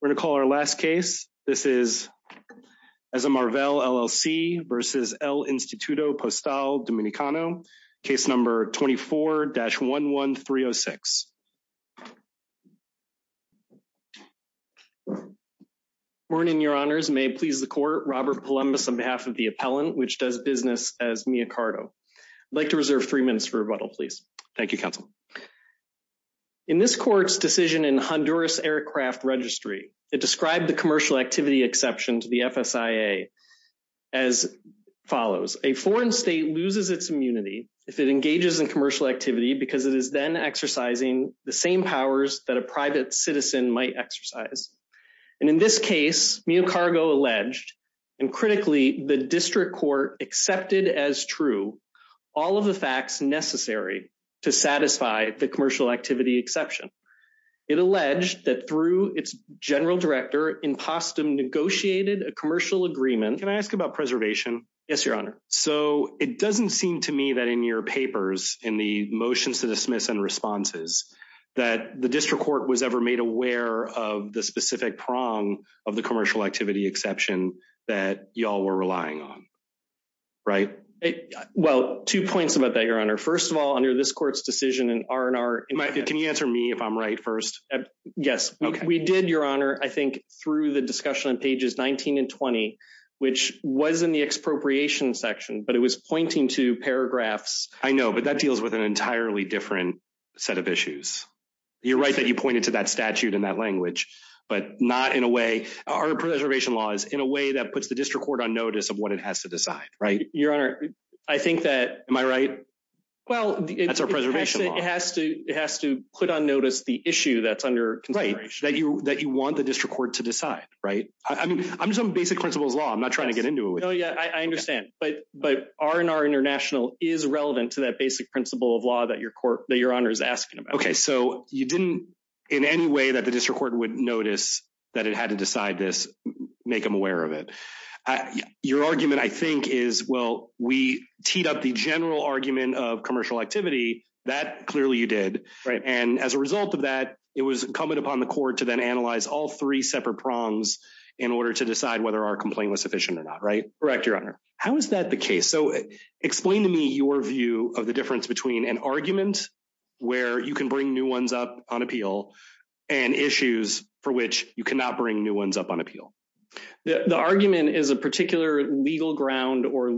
We're going to call our last case. This is Ezemarval, LLC v. El Instituto Postal Dominicano, case number 24-11306. Good morning, Your Honors. May it please the Court, Robert Palumbis on behalf of the appellant, which does business as Mia Cardo. I'd like to reserve three minutes for rebuttal, please. Thank you, Counsel. In this Court's decision in Honduras Aircraft Registry, it described the commercial activity exception to the FSIA as follows. A foreign state loses its immunity if it engages in commercial activity because it is then exercising the same powers that a private citizen might exercise. And in this case, Mia Cardo alleged, and critically, the District Court accepted as true, all of the facts necessary to satisfy the commercial activity exception. It alleged that through its General Director, Impostum negotiated a commercial agreement… Can I ask about preservation? Yes, Your Honor. So it doesn't seem to me that in your papers, in the motions to dismiss and responses, that the District Court was ever made aware of the specific prong of the commercial activity exception that y'all were relying on. Right? Well, two points about that, Your Honor. First of all, under this Court's decision in R&R… Can you answer me if I'm right first? Yes. We did, Your Honor, I think, through the discussion on pages 19 and 20, which was in the expropriation section, but it was pointing to paragraphs… I know, but that deals with an entirely different set of issues. You're right that you pointed to that statute in that language, but not in a way… Our preservation law is in a way that puts the District Court on notice of what it has to decide, right? Your Honor, I think that… Am I right? Well, it… That's our preservation law. It has to put on notice the issue that's under consideration. Right, that you want the District Court to decide, right? I mean, I'm just on basic principles of law. I'm not trying to get into it with you. No, yeah, I understand, but R&R International is relevant to that basic principle of law that Your Honor is asking about. Okay, so you didn't, in any way, that the District Court would notice that it had to decide this, make them aware of it. Your argument, I think, is, well, we teed up the general argument of commercial activity. That, clearly, you did. Right. And as a result of that, it was incumbent upon the court to then analyze all three separate prongs in order to decide whether our complaint was sufficient or not, right? Correct, Your Honor. How is that the case? So, explain to me your view of the difference between an argument where you can bring new ones up on appeal and issues for which you cannot bring new ones up on appeal. The argument is a particular legal ground or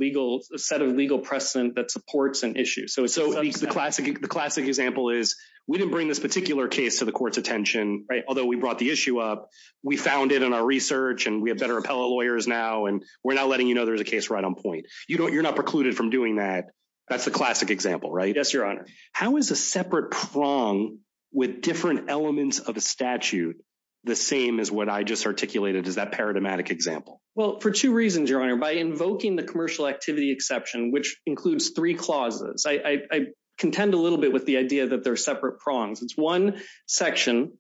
set of legal precedent that supports an issue. So, the classic example is, we didn't bring this particular case to the court's attention, although we brought the issue up, we found it in our research, and we have better appellate lawyers now, and we're now letting you know there's a case right on point. You're not precluded from doing that. That's the classic example, right? Yes, Your Honor. How is a separate prong with different elements of a statute the same as what I just articulated as that paradigmatic example? Well, for two reasons, Your Honor. By invoking the commercial activity exception, which includes three clauses, I contend a little bit with the idea that they're separate prongs. It's one section,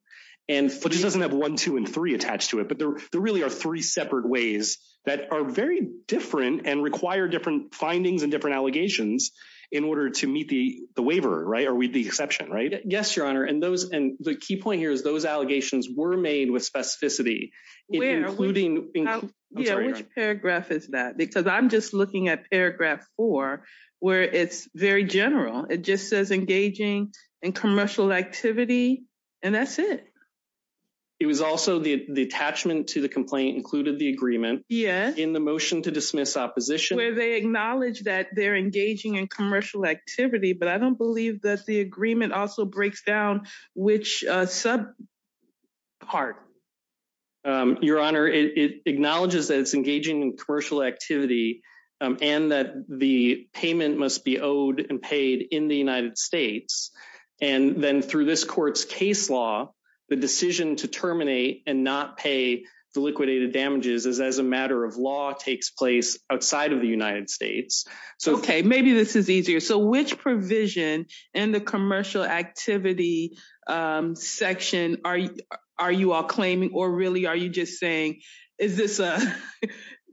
and... But it doesn't have one, two, and three attached to it, but there really are three separate ways that are very different and require different findings and different allegations in order to meet the waiver, right? Or meet the exception, right? Yes, Your Honor. And the key point here is those allegations were made with specificity, including... Which paragraph is that? Because I'm just looking at paragraph four, where it's very general. It just says engaging in commercial activity, and that's it. It was also the attachment to the complaint included the agreement in the motion to dismiss opposition. Where they acknowledge that they're engaging in commercial activity, but I don't believe that the agreement also breaks down which sub part. Your Honor, it acknowledges that it's engaging in commercial activity and that the payment must be owed and paid in the United States. And then through this court's case law, the decision to terminate and not pay the liquidated damages as a matter of law takes place outside of the United States. Okay, maybe this is easier. So which provision in the commercial activity section are you all claiming or really are you just saying, is this a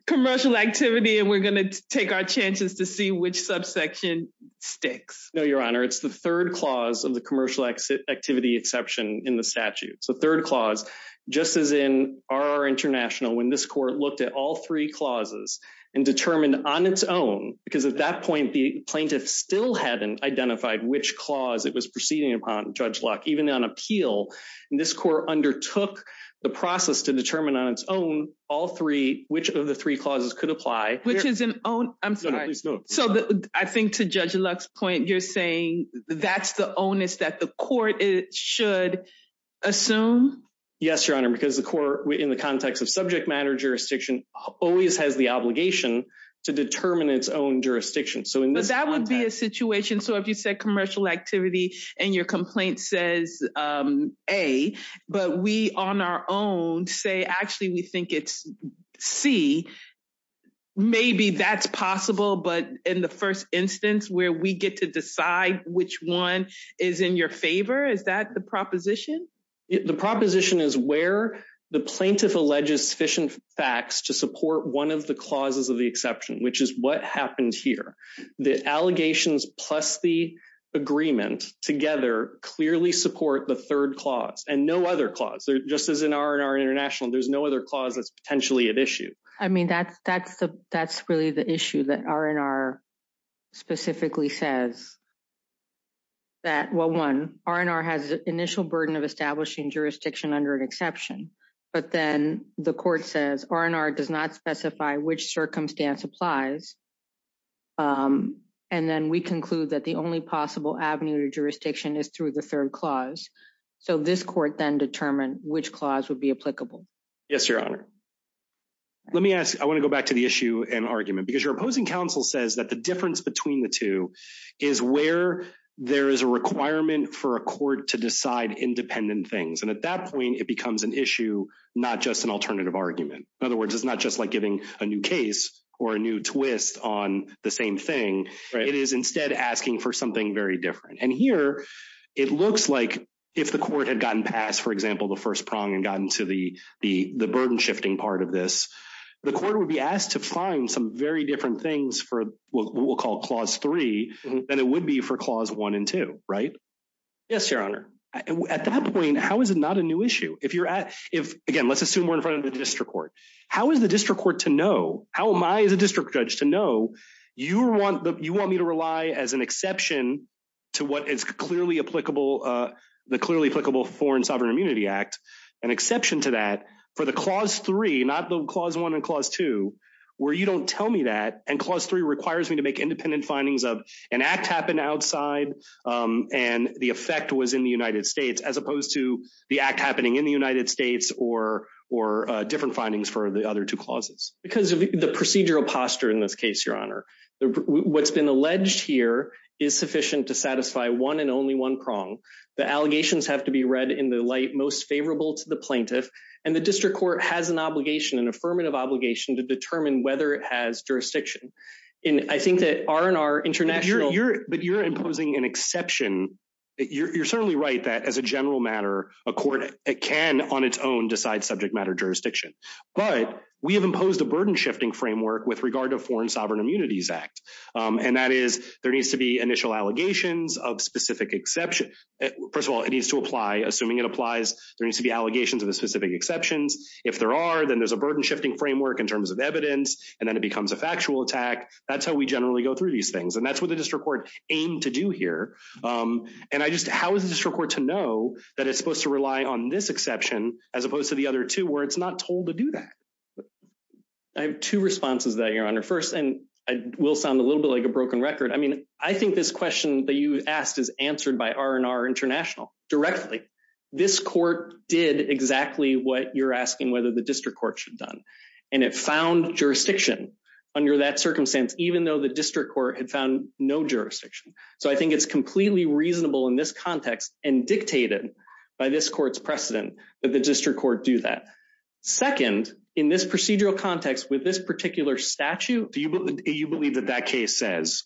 commercial activity and we're going to take our chances to see which subsection sticks? No, Your Honor. It's the third clause of the commercial activity exception in the statute. So third clause, just as in our international, when this court looked at all three clauses and determined on its own, because at that point, the plaintiff still hadn't identified which clause it was proceeding upon Judge Luck, even on appeal. And this court undertook the process to determine on its own, all three, which of the three clauses could apply. So I think to Judge Luck's point, you're saying that's the onus that the court should assume? Yes, Your Honor, because the court, in the context of subject matter jurisdiction, always has the obligation to determine its own jurisdiction. But that would be a situation. So if you said commercial activity, and your complaint says, A, but we on our own say, actually, we think it's C, maybe that's possible. But in the first instance where we get to decide which one is in your favor, is that the proposition? The proposition is where the plaintiff alleges sufficient facts to support one of the clauses of the exception, which is what happened here. The allegations plus the agreement together clearly support the third clause and no other clause. Just as in our international, there's no other clause that's potentially at issue. I mean, that's really the issue that R&R specifically says that, well, one, R&R has the initial burden of establishing jurisdiction under an exception. But then the court says R&R does not specify which circumstance applies. And then we conclude that the only possible avenue to jurisdiction is through the third clause. So this court then determined which clause would be applicable. Yes, Your Honor. Let me ask, I want to go back to the issue and argument. Because your opposing counsel says that the difference between the two is where there is a requirement for a court to decide independent things. And at that point, it becomes an issue, not just an alternative argument. In other words, it's not just like giving a new case or a new twist on the same thing. It is instead asking for something very different. And here, it looks like if the court had gotten past, for example, the first prong and gotten to the burden shifting part of this, the court would be asked to find some very different things for what we'll call Clause 3 than it would be for Clause 1 and 2, right? Yes, Your Honor. At that point, how is it not a new issue? Again, let's assume we're in front of the district court. How is the district court to know, how am I as a district judge to know you want me to rely as an exception to what is clearly applicable, the clearly applicable Foreign Sovereign Immunity Act, an exception to that for the Clause 3, not the Clause 1 and Clause 2, where you don't tell me that. And Clause 3 requires me to make independent findings of an act happened outside and the effect was in the United States as opposed to the act happening in the United States or different findings for the other two clauses. Because of the procedural posture in this case, Your Honor. What's been alleged here is sufficient to satisfy one and only one prong. The allegations have to be read in the light most favorable to the plaintiff. And the district court has an obligation, an affirmative obligation, to determine whether it has jurisdiction. And I think that our and our international... But you're imposing an exception. You're certainly right that as a general matter, a court can on its own decide subject matter jurisdiction. But we have imposed a burden shifting framework with regard to Foreign Sovereign Immunities Act. And that is, there needs to be initial allegations of specific exception. First of all, it needs to apply. Assuming it applies, there needs to be allegations of the specific exceptions. If there are, then there's a burden shifting framework in terms of evidence, and then it becomes a factual attack. That's how we generally go through these things. And that's what the district court aimed to do here. And I just... How is the district court to know that it's supposed to rely on this exception as opposed to the other two where it's not told to do that? I have two responses to that, Your Honor. First, and I will sound a little bit like a broken record. I mean, I think this question that you asked is answered by our and our international directly. This court did exactly what you're asking whether the district court should have done. And it found jurisdiction under that circumstance, even though the district court had found no jurisdiction. So I think it's completely reasonable in this context and dictated by this court's precedent that the district court do that. Second, in this procedural context with this particular statute... Do you believe that that case says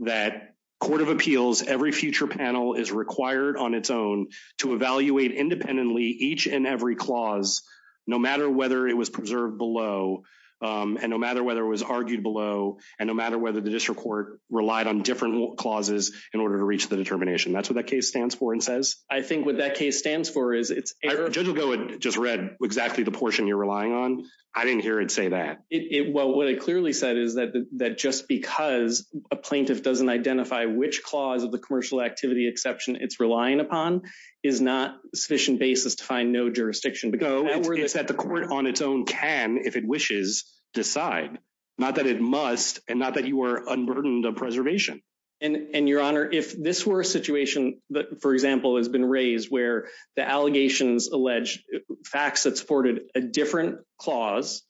that court of appeals, every future panel is required on its own to evaluate independently each and every clause, no matter whether it was preserved below, and no matter whether it was argued below, and no matter whether the district court relied on different clauses in order to reach the determination. That's what that case stands for and says? I think what that case stands for is it's... Judge Ligo had just read exactly the portion you're relying on. I didn't hear it say that. Well, what it clearly said is that just because a plaintiff doesn't identify which clause of the commercial activity exception it's relying upon is not sufficient basis to find no jurisdiction. No, it's that the court on its own can, if it wishes, decide. Not that it must, and not that you are unburdened of preservation. And, Your Honor, if this were a situation that, for example, has been raised where the allegations allege facts that supported a different clause,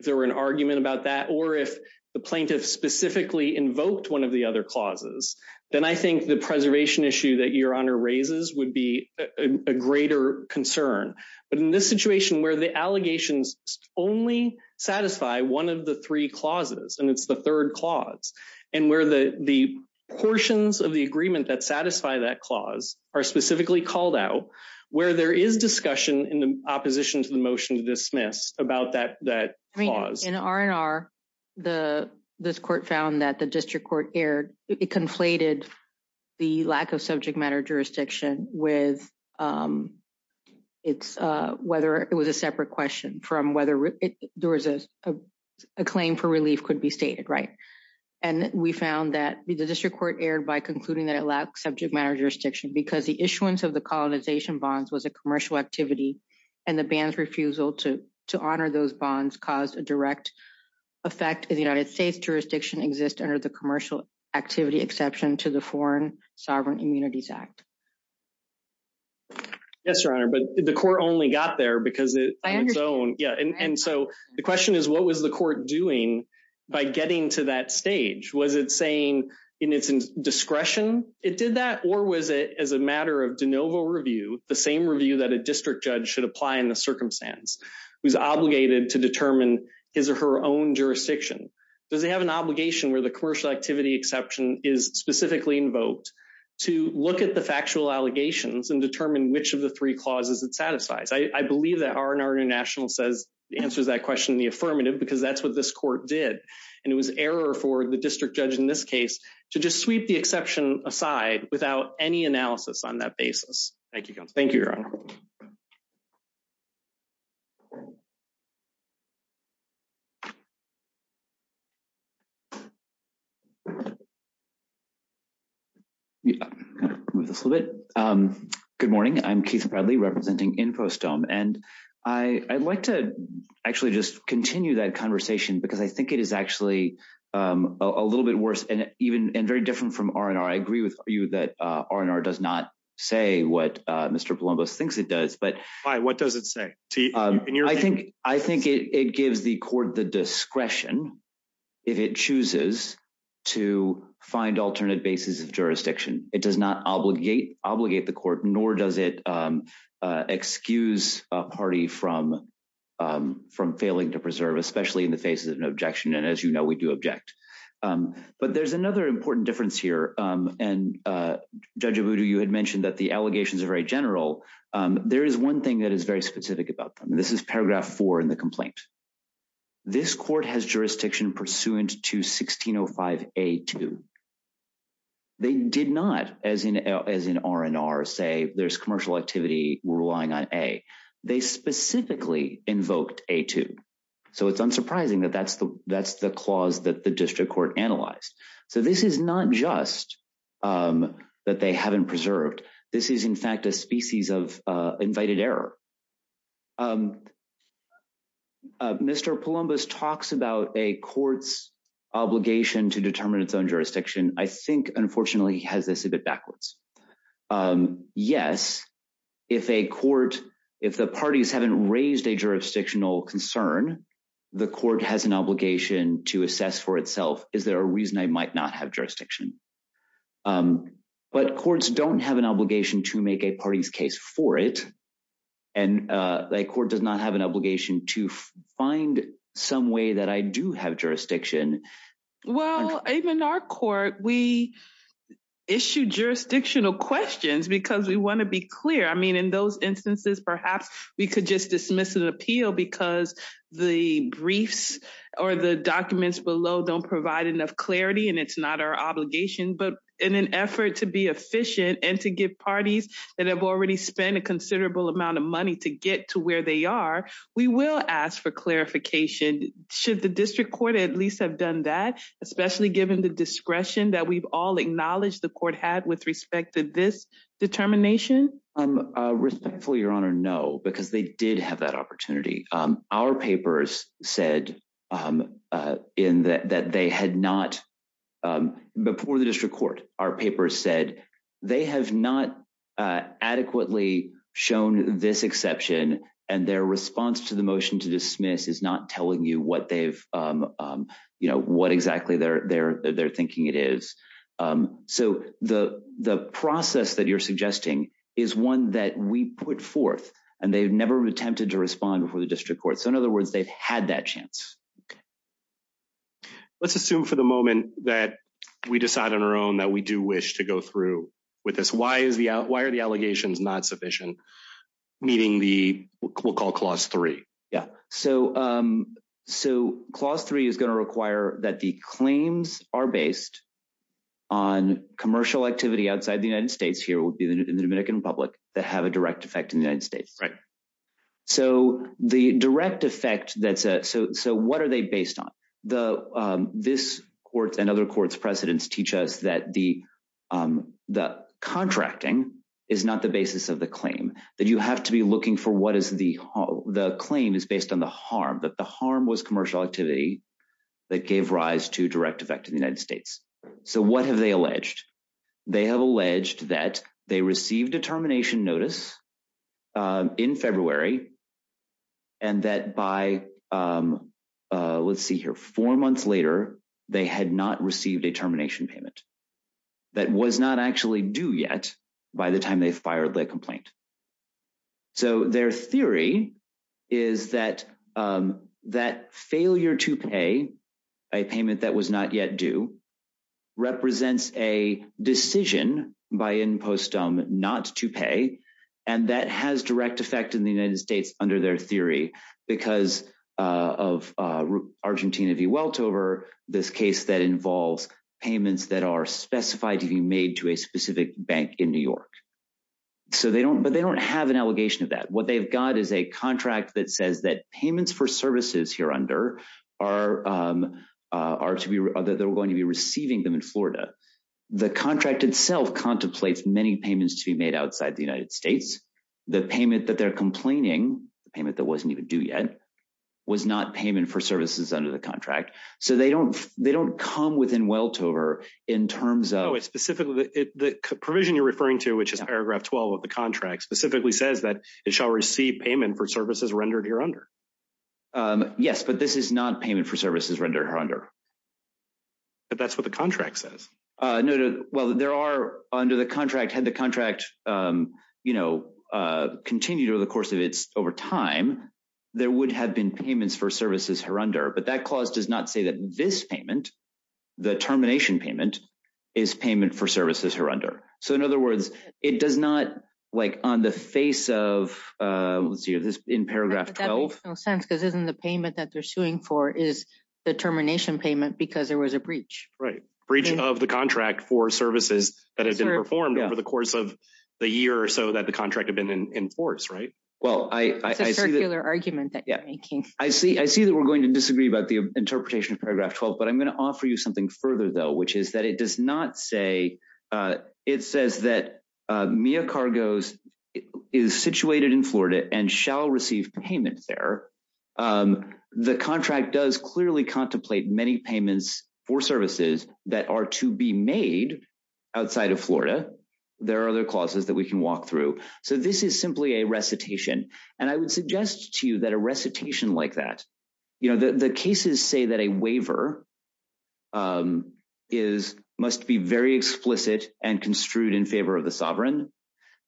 if there were an argument about that, or if the plaintiff specifically invoked one of the other clauses, then I think the preservation issue that Your Honor raises would be a greater concern. But in this situation where the allegations only satisfy one of the three clauses, and it's the third clause, and where the portions of the agreement that satisfy that clause are specifically called out, where there is discussion in opposition to the motion to dismiss about that clause. In R&R, this court found that the district court erred. It conflated the lack of subject matter jurisdiction with whether it was a separate question from whether there was a claim for relief could be stated. And we found that the district court erred by concluding that it lacked subject matter jurisdiction because the issuance of the colonization bonds was a commercial activity, and the ban's refusal to honor those bonds caused a direct effect in the United States jurisdiction exists under the commercial activity exception to the Foreign Sovereign Immunities Act. Yes, Your Honor, but the court only got there because it on its own. Yeah. And so the question is, what was the court doing by getting to that stage? Was it saying in its discretion, it did that? Or was it as a matter of de novo review, the same review that a district judge should apply in the circumstance was obligated to determine his or her own jurisdiction? Does it have an obligation where the commercial activity exception is specifically invoked to look at the factual allegations and determine which of the three clauses it satisfies? I believe that R&R International answers that question in the affirmative because that's what this court did. And it was error for the district judge in this case to just sweep the exception aside without any analysis on that basis. Thank you, Your Honor. Move this a little bit. Good morning. I'm Keith Bradley representing InfoStone. And I'd like to actually just continue that conversation because I think it is actually a little bit worse and even very different from R&R. I agree with you that R&R does not say what Mr. Palombos thinks it does. But what does it say? I think I think it gives the court the discretion if it chooses to find alternate bases of jurisdiction. It does not obligate obligate the court, nor does it excuse a party from from failing to preserve, especially in the face of an objection. And as you know, we do object. But there's another important difference here. And Judge Abudu, you had mentioned that the allegations are very general. There is one thing that is very specific about them. This is paragraph four in the complaint. This court has jurisdiction pursuant to 1605A2. They did not, as in R&R, say there's commercial activity relying on A. They specifically invoked A2. So it's unsurprising that that's the that's the clause that the district court analyzed. So this is not just that they haven't preserved. This is, in fact, a species of invited error. Mr. Palombos talks about a court's obligation to determine its own jurisdiction. I think, unfortunately, he has this a bit backwards. Yes, if a court if the parties haven't raised a jurisdictional concern, the court has an obligation to assess for itself. Is there a reason I might not have jurisdiction? But courts don't have an obligation to make a party's case for it. And the court does not have an obligation to find some way that I do have jurisdiction. Well, in our court, we issue jurisdictional questions because we want to be clear. I mean, in those instances, perhaps we could just dismiss an appeal because the briefs or the documents below don't provide enough clarity. And it's not our obligation. But in an effort to be efficient and to give parties that have already spent a considerable amount of money to get to where they are, we will ask for clarification. Should the district court at least have done that, especially given the discretion that we've all acknowledged the court had with respect to this determination? Respectfully, Your Honor, no, because they did have that opportunity. Our papers said that they had not before the district court. Our papers said they have not adequately shown this exception. And their response to the motion to dismiss is not telling you what they've you know what exactly they're they're they're thinking it is. So the the process that you're suggesting is one that we put forth and they've never attempted to respond before the district court. So, in other words, they've had that chance. Let's assume for the moment that we decide on our own that we do wish to go through with this. Why is the why are the allegations not sufficient? Meaning the we'll call clause three. Yeah. So so clause three is going to require that the claims are based on commercial activity outside the United States. Here would be the Dominican Republic that have a direct effect in the United States. Right. So the direct effect that's so so what are they based on the this court and other courts precedents teach us that the the contracting is not the basis of the claim that you have to be looking for. What is the the claim is based on the harm that the harm was commercial activity that gave rise to direct effect in the United States. So what have they alleged they have alleged that they received a termination notice in February. And that by let's see here four months later, they had not received a termination payment. That was not actually due yet by the time they fired the complaint. So their theory is that that failure to pay a payment that was not yet due represents a decision by in post not to pay. And that has direct effect in the United States under their theory because of Argentina V. Weltover, this case that involves payments that are specified to be made to a specific bank in New York. So they don't but they don't have an allegation of that. What they've got is a contract that says that payments for services here under are are to be that they're going to be receiving them in Florida. The contract itself contemplates many payments to be made outside the United States. The payment that they're complaining payment that wasn't even due yet was not payment for services under the contract. So they don't they don't come within Weltover in terms of specifically the provision you're referring to, which is paragraph 12 of the contract specifically says that it shall receive payment for services rendered here under. Yes, but this is not payment for services rendered her under. But that's what the contract says. Well, there are under the contract had the contract, you know, continued over the course of its over time, there would have been payments for services her under. But that clause does not say that this payment, the termination payment is payment for services her under. So in other words, it does not like on the face of this in paragraph 12. It makes no sense because isn't the payment that they're suing for is the termination payment because there was a breach. Right. Breach of the contract for services that have been performed over the course of the year or so that the contract have been in force. Right. Well, I hear their argument that I see. I see that we're going to disagree about the interpretation of paragraph 12. But I'm going to offer you something further, though, which is that it does not say it says that Mia Cargos is situated in Florida and shall receive payment there. The contract does clearly contemplate many payments for services that are to be made outside of Florida. There are other clauses that we can walk through. So this is simply a recitation. And I would suggest to you that a recitation like that. You know, the cases say that a waiver is must be very explicit and construed in favor of the sovereign.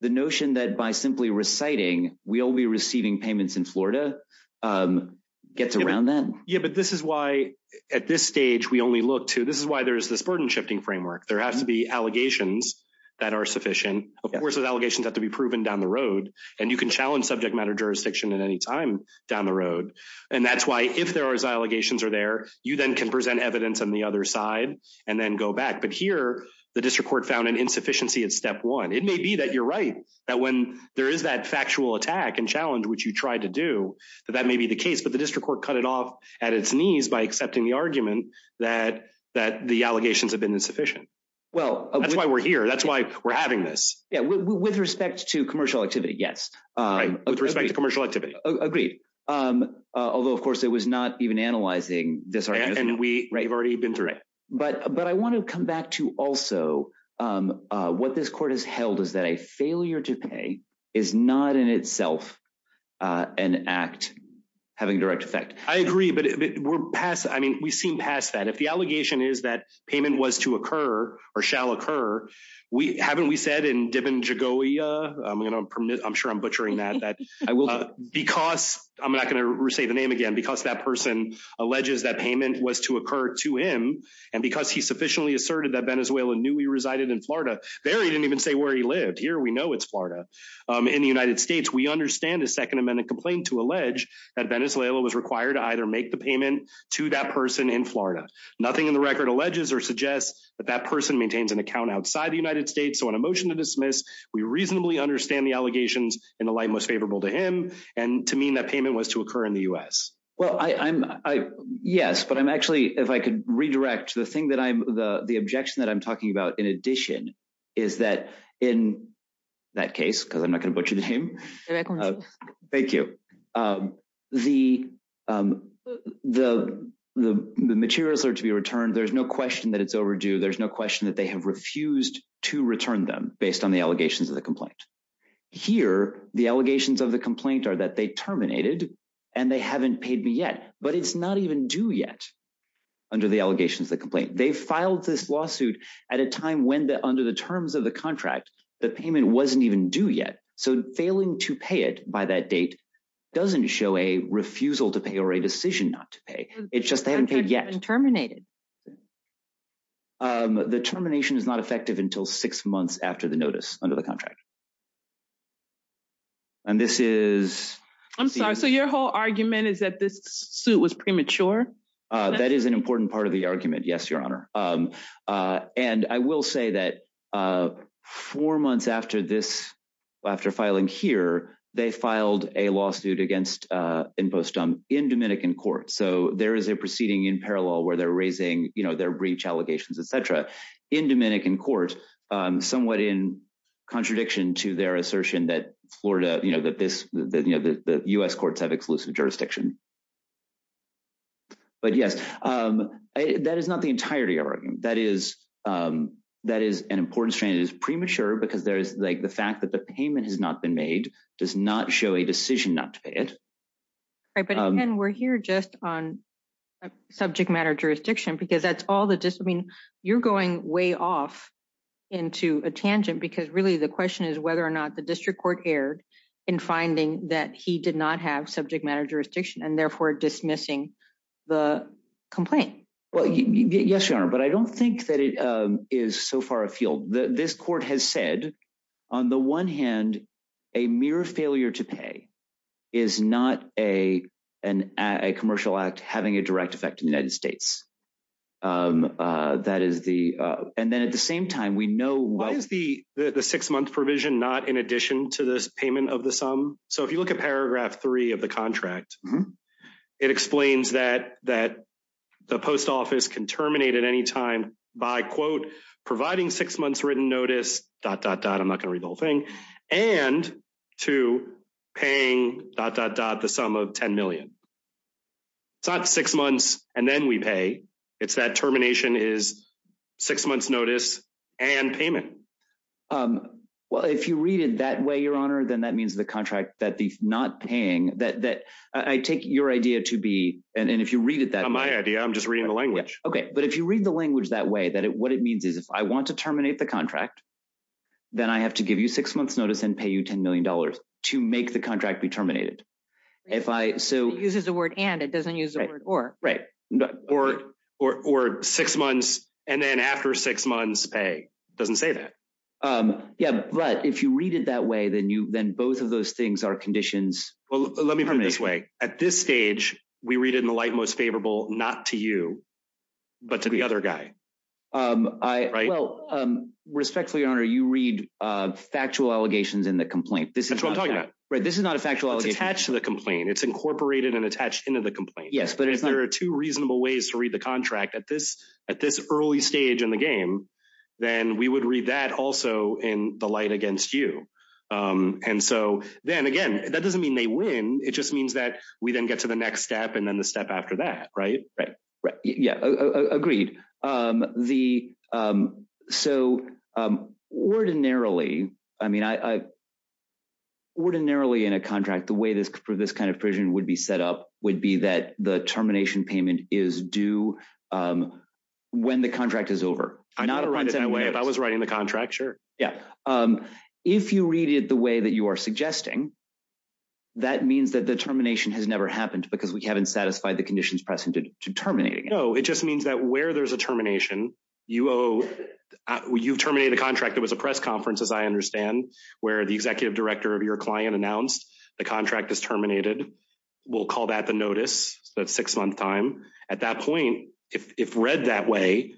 The notion that by simply reciting we'll be receiving payments in Florida gets around then. Yeah. But this is why at this stage we only look to this is why there is this burden shifting framework. There has to be allegations that are sufficient. Of course, the allegations have to be proven down the road. And you can challenge subject matter jurisdiction at any time down the road. And that's why if there are allegations are there, you then can present evidence on the other side and then go back. But here the district court found an insufficiency in step one. It may be that you're right that when there is that factual attack and challenge, which you tried to do, that that may be the case. But the district court cut it off at its knees by accepting the argument that that the allegations have been insufficient. Well, that's why we're here. That's why we're having this. Yeah. With respect to commercial activity. Yes. With respect to commercial activity. Agreed. Although, of course, it was not even analyzing this. And we've already been through it. But I want to come back to also what this court has held is that a failure to pay is not in itself an act having direct effect. I agree. But we're past. I mean, we seem past that. And if the allegation is that payment was to occur or shall occur, we haven't. We said in Dibin Jagowia, I'm going to permit. I'm sure I'm butchering that. I will because I'm not going to say the name again because that person alleges that payment was to occur to him. And because he sufficiently asserted that Venezuela knew he resided in Florida there, he didn't even say where he lived here. We know it's Florida in the United States. We understand a Second Amendment complaint to allege that Venezuela was required to either make the payment to that person in Florida. Nothing in the record alleges or suggests that that person maintains an account outside the United States. So on a motion to dismiss, we reasonably understand the allegations in the light most favorable to him and to mean that payment was to occur in the U.S. Well, I'm yes, but I'm actually if I could redirect the thing that I'm the objection that I'm talking about. In addition, is that in that case, because I'm not going to butcher the name. Thank you. The the the materials are to be returned. There's no question that it's overdue. There's no question that they have refused to return them based on the allegations of the complaint. Here, the allegations of the complaint are that they terminated and they haven't paid me yet. But it's not even due yet. Under the allegations, the complaint, they filed this lawsuit at a time when the under the terms of the contract, the payment wasn't even due yet. So failing to pay it by that date doesn't show a refusal to pay or a decision not to pay. It's just they haven't paid yet and terminated. The termination is not effective until six months after the notice under the contract. And this is I'm sorry, so your whole argument is that this suit was premature. That is an important part of the argument. Yes, your honor. And I will say that four months after this, after filing here, they filed a lawsuit against InfoStump in Dominican court. So there is a proceeding in parallel where they're raising their breach allegations, et cetera, in Dominican court. Somewhat in contradiction to their assertion that Florida, you know, that this the U.S. courts have exclusive jurisdiction. But yes, that is not the entirety of our argument. That is that is an important strain is premature because there is like the fact that the payment has not been made, does not show a decision not to pay it. And we're here just on subject matter jurisdiction, because that's all the discipline you're going way off into a tangent, because really the question is whether or not the district court erred in finding that he did not have subject matter jurisdiction. And therefore dismissing the complaint. Well, yes, your honor. But I don't think that it is so far afield. This court has said on the one hand, a mere failure to pay is not a a commercial act having a direct effect in the United States. That is the and then at the same time, we know what is the the six month provision, not in addition to this payment of the sum. So if you look at paragraph three of the contract, it explains that that the post office can terminate at any time by, quote, providing six months written notice, dot, dot, dot. I'm not going to read the whole thing and to paying dot, dot, dot. The sum of 10 million. It's not six months and then we pay. It's that termination is six months notice and payment. Well, if you read it that way, your honor, then that means the contract that the not paying that that I take your idea to be. And if you read it, that my idea, I'm just reading the language. OK, but if you read the language that way, that what it means is if I want to terminate the contract, then I have to give you six months notice and pay you 10 million dollars to make the contract be terminated. If I so uses the word and it doesn't use the word or. Right. Or or or six months and then after six months pay doesn't say that. Yeah. But if you read it that way, then you then both of those things are conditions. Well, let me put it this way. At this stage, we read it in the light most favorable, not to you, but to the other guy. I well, respectfully, your honor, you read factual allegations in the complaint. This is what I'm talking about. Right. This is not a factual. It's attached to the complaint. It's incorporated and attached into the complaint. Yes, but if there are two reasonable ways to read the contract at this at this early stage in the game, then we would read that also in the light against you. And so then again, that doesn't mean they win. It just means that we then get to the next step and then the step after that. Right. Right. Right. Yeah. Agreed. The so ordinarily, I mean, I ordinarily in a contract, the way this for this kind of provision would be set up would be that the termination payment is due when the contract is over. I'm not going to run away if I was writing the contract. Sure. Yeah. If you read it the way that you are suggesting. That means that the termination has never happened because we haven't satisfied the conditions presented to terminating. No, it just means that where there's a termination, you owe you terminate the contract. It was a press conference, as I understand, where the executive director of your client announced the contract is terminated. We'll call that the notice. That's six month time. At that point, if read that way,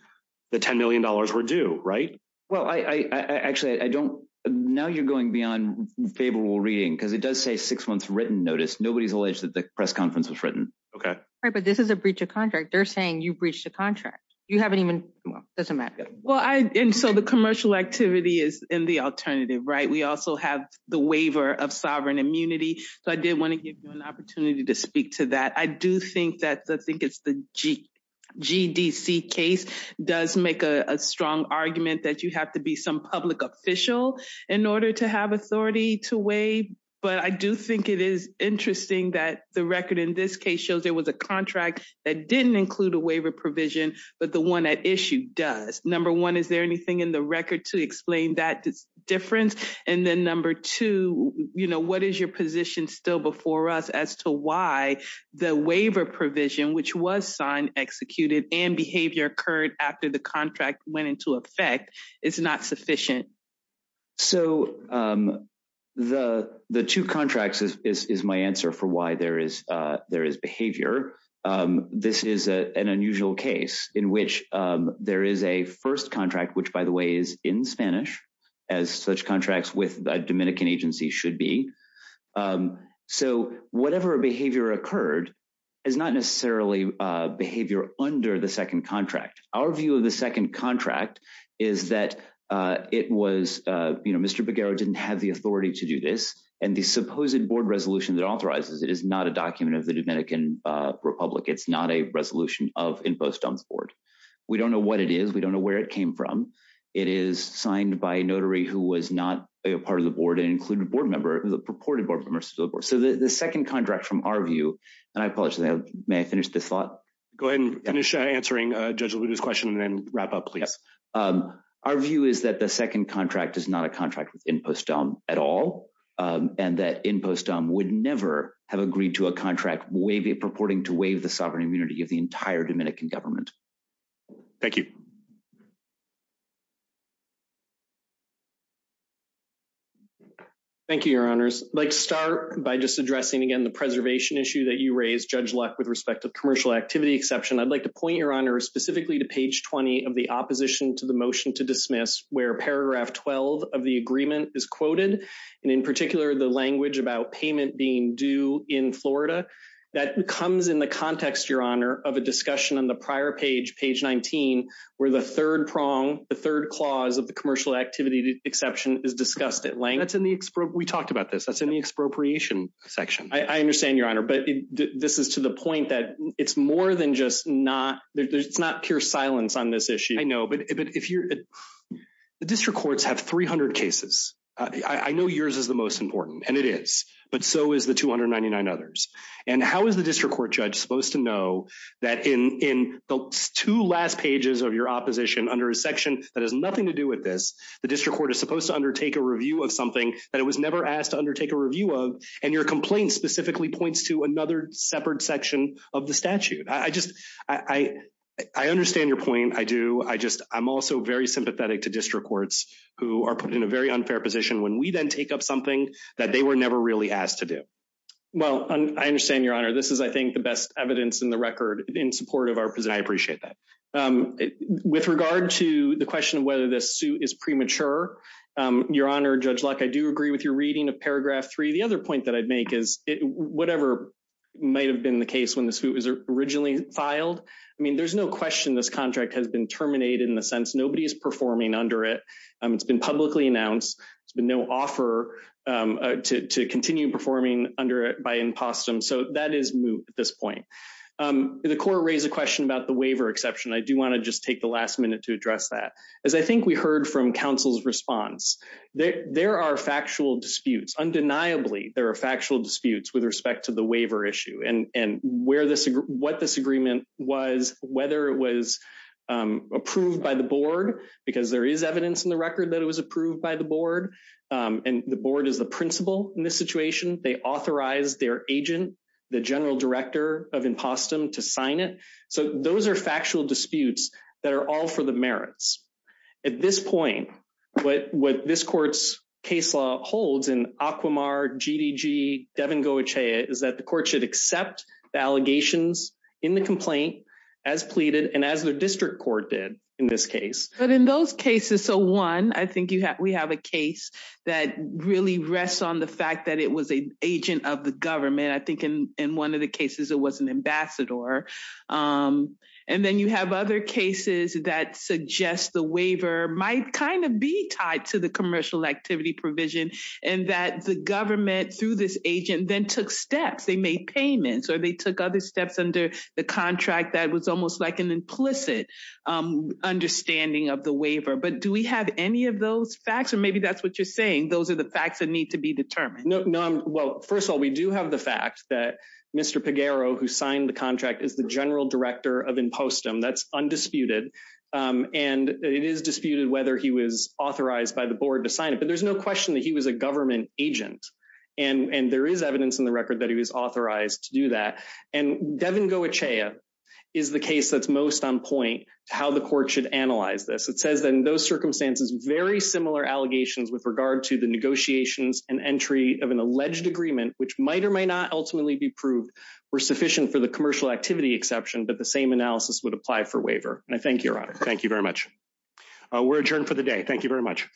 the ten million dollars were due. Right. Well, I actually I don't know. You're going beyond favorable reading because it does say six months written notice. Nobody's alleged that the press conference was written. OK, but this is a breach of contract. They're saying you breached a contract. You haven't even. Well, doesn't matter. Well, I and so the commercial activity is in the alternative. Right. We also have the waiver of sovereign immunity. So I did want to give you an opportunity to speak to that. I do think that I think it's the G.G.D.C. case does make a strong argument that you have to be some public official in order to have authority to waive. But I do think it is interesting that the record in this case shows there was a contract that didn't include a waiver provision. But the one at issue does. Number one, is there anything in the record to explain that difference? And then number two, you know, what is your position still before us as to why the waiver provision, which was signed, executed and behavior occurred after the contract went into effect? It's not sufficient. So the the two contracts is my answer for why there is there is behavior. This is an unusual case in which there is a first contract, which, by the way, is in Spanish as such contracts with the Dominican agency should be. So whatever behavior occurred is not necessarily behavior under the second contract. Our view of the second contract is that it was, you know, Mr. Bagheera didn't have the authority to do this. And the supposed board resolution that authorizes it is not a document of the Dominican Republic. It's not a resolution of InfoStumps board. We don't know what it is. We don't know where it came from. It is signed by a notary who was not a part of the board and included a board member of the purported board members. So the second contract, from our view, and I apologize. May I finish this thought? Go ahead and finish answering Judge's question and wrap up, please. Our view is that the second contract is not a contract with InfoStump at all and that InfoStump would never have agreed to a contract. We be purporting to waive the sovereign immunity of the entire Dominican government. Thank you. Thank you, Your Honors. I'd like to start by just addressing again the preservation issue that you raised, Judge Luck, with respect to commercial activity exception. I'd like to point, Your Honor, specifically to page 20 of the opposition to the motion to dismiss where paragraph 12 of the agreement is quoted. And in particular, the language about payment being due in Florida. That comes in the context, Your Honor, of a discussion on the prior page, page 19, where the third prong, the third clause of the commercial activity exception is discussed at length. We talked about this. That's in the expropriation section. I understand, Your Honor, but this is to the point that it's more than just not pure silence on this issue. I know, but the district courts have 300 cases. I know yours is the most important, and it is, but so is the 299 others. And how is the district court judge supposed to know that in the two last pages of your opposition under a section that has nothing to do with this, the district court is supposed to undertake a review of something that it was never asked to undertake a review of? And your complaint specifically points to another separate section of the statute. I just I understand your point. I do. I just I'm also very sympathetic to district courts who are put in a very unfair position when we then take up something that they were never really asked to do. Well, I understand, Your Honor. This is, I think, the best evidence in the record in support of our position. I appreciate that. With regard to the question of whether this suit is premature, Your Honor, Judge Luck, I do agree with your reading of paragraph three. The other point that I'd make is whatever might have been the case when this suit was originally filed. I mean, there's no question this contract has been terminated in the sense nobody is performing under it. It's been publicly announced. There's been no offer to continue performing under it by impostum. So that is moot at this point. The court raised a question about the waiver exception. I do want to just take the last minute to address that, as I think we heard from counsel's response that there are factual disputes. Undeniably, there are factual disputes with respect to the waiver issue and where this what this agreement was, whether it was approved by the board because there is evidence in the record that it was approved by the board and the board is the principal in this situation. They authorize their agent, the general director of impostum, to sign it. So those are factual disputes that are all for the merits at this point. But what this court's case law holds in Aquamar, GDG, Devon, Goetia is that the court should accept the allegations in the complaint as pleaded and as the district court did in this case. But in those cases, so one, I think we have a case that really rests on the fact that it was an agent of the government. I think in one of the cases it was an ambassador. And then you have other cases that suggest the waiver might kind of be tied to the commercial activity provision and that the government through this agent then took steps. They made payments or they took other steps under the contract. That was almost like an implicit understanding of the waiver. But do we have any of those facts or maybe that's what you're saying? Those are the facts that need to be determined. Well, first of all, we do have the fact that Mr. Pagaro, who signed the contract, is the general director of impostum. That's undisputed. And it is disputed whether he was authorized by the board to sign it. But there's no question that he was a government agent. And there is evidence in the record that he was authorized to do that. And Devin Goetia is the case that's most on point to how the court should analyze this. It says that in those circumstances, very similar allegations with regard to the negotiations and entry of an alleged agreement, which might or may not ultimately be proved were sufficient for the commercial activity exception. But the same analysis would apply for waiver. And I thank you. Thank you very much. We're adjourned for the day. Thank you very much. Thank you.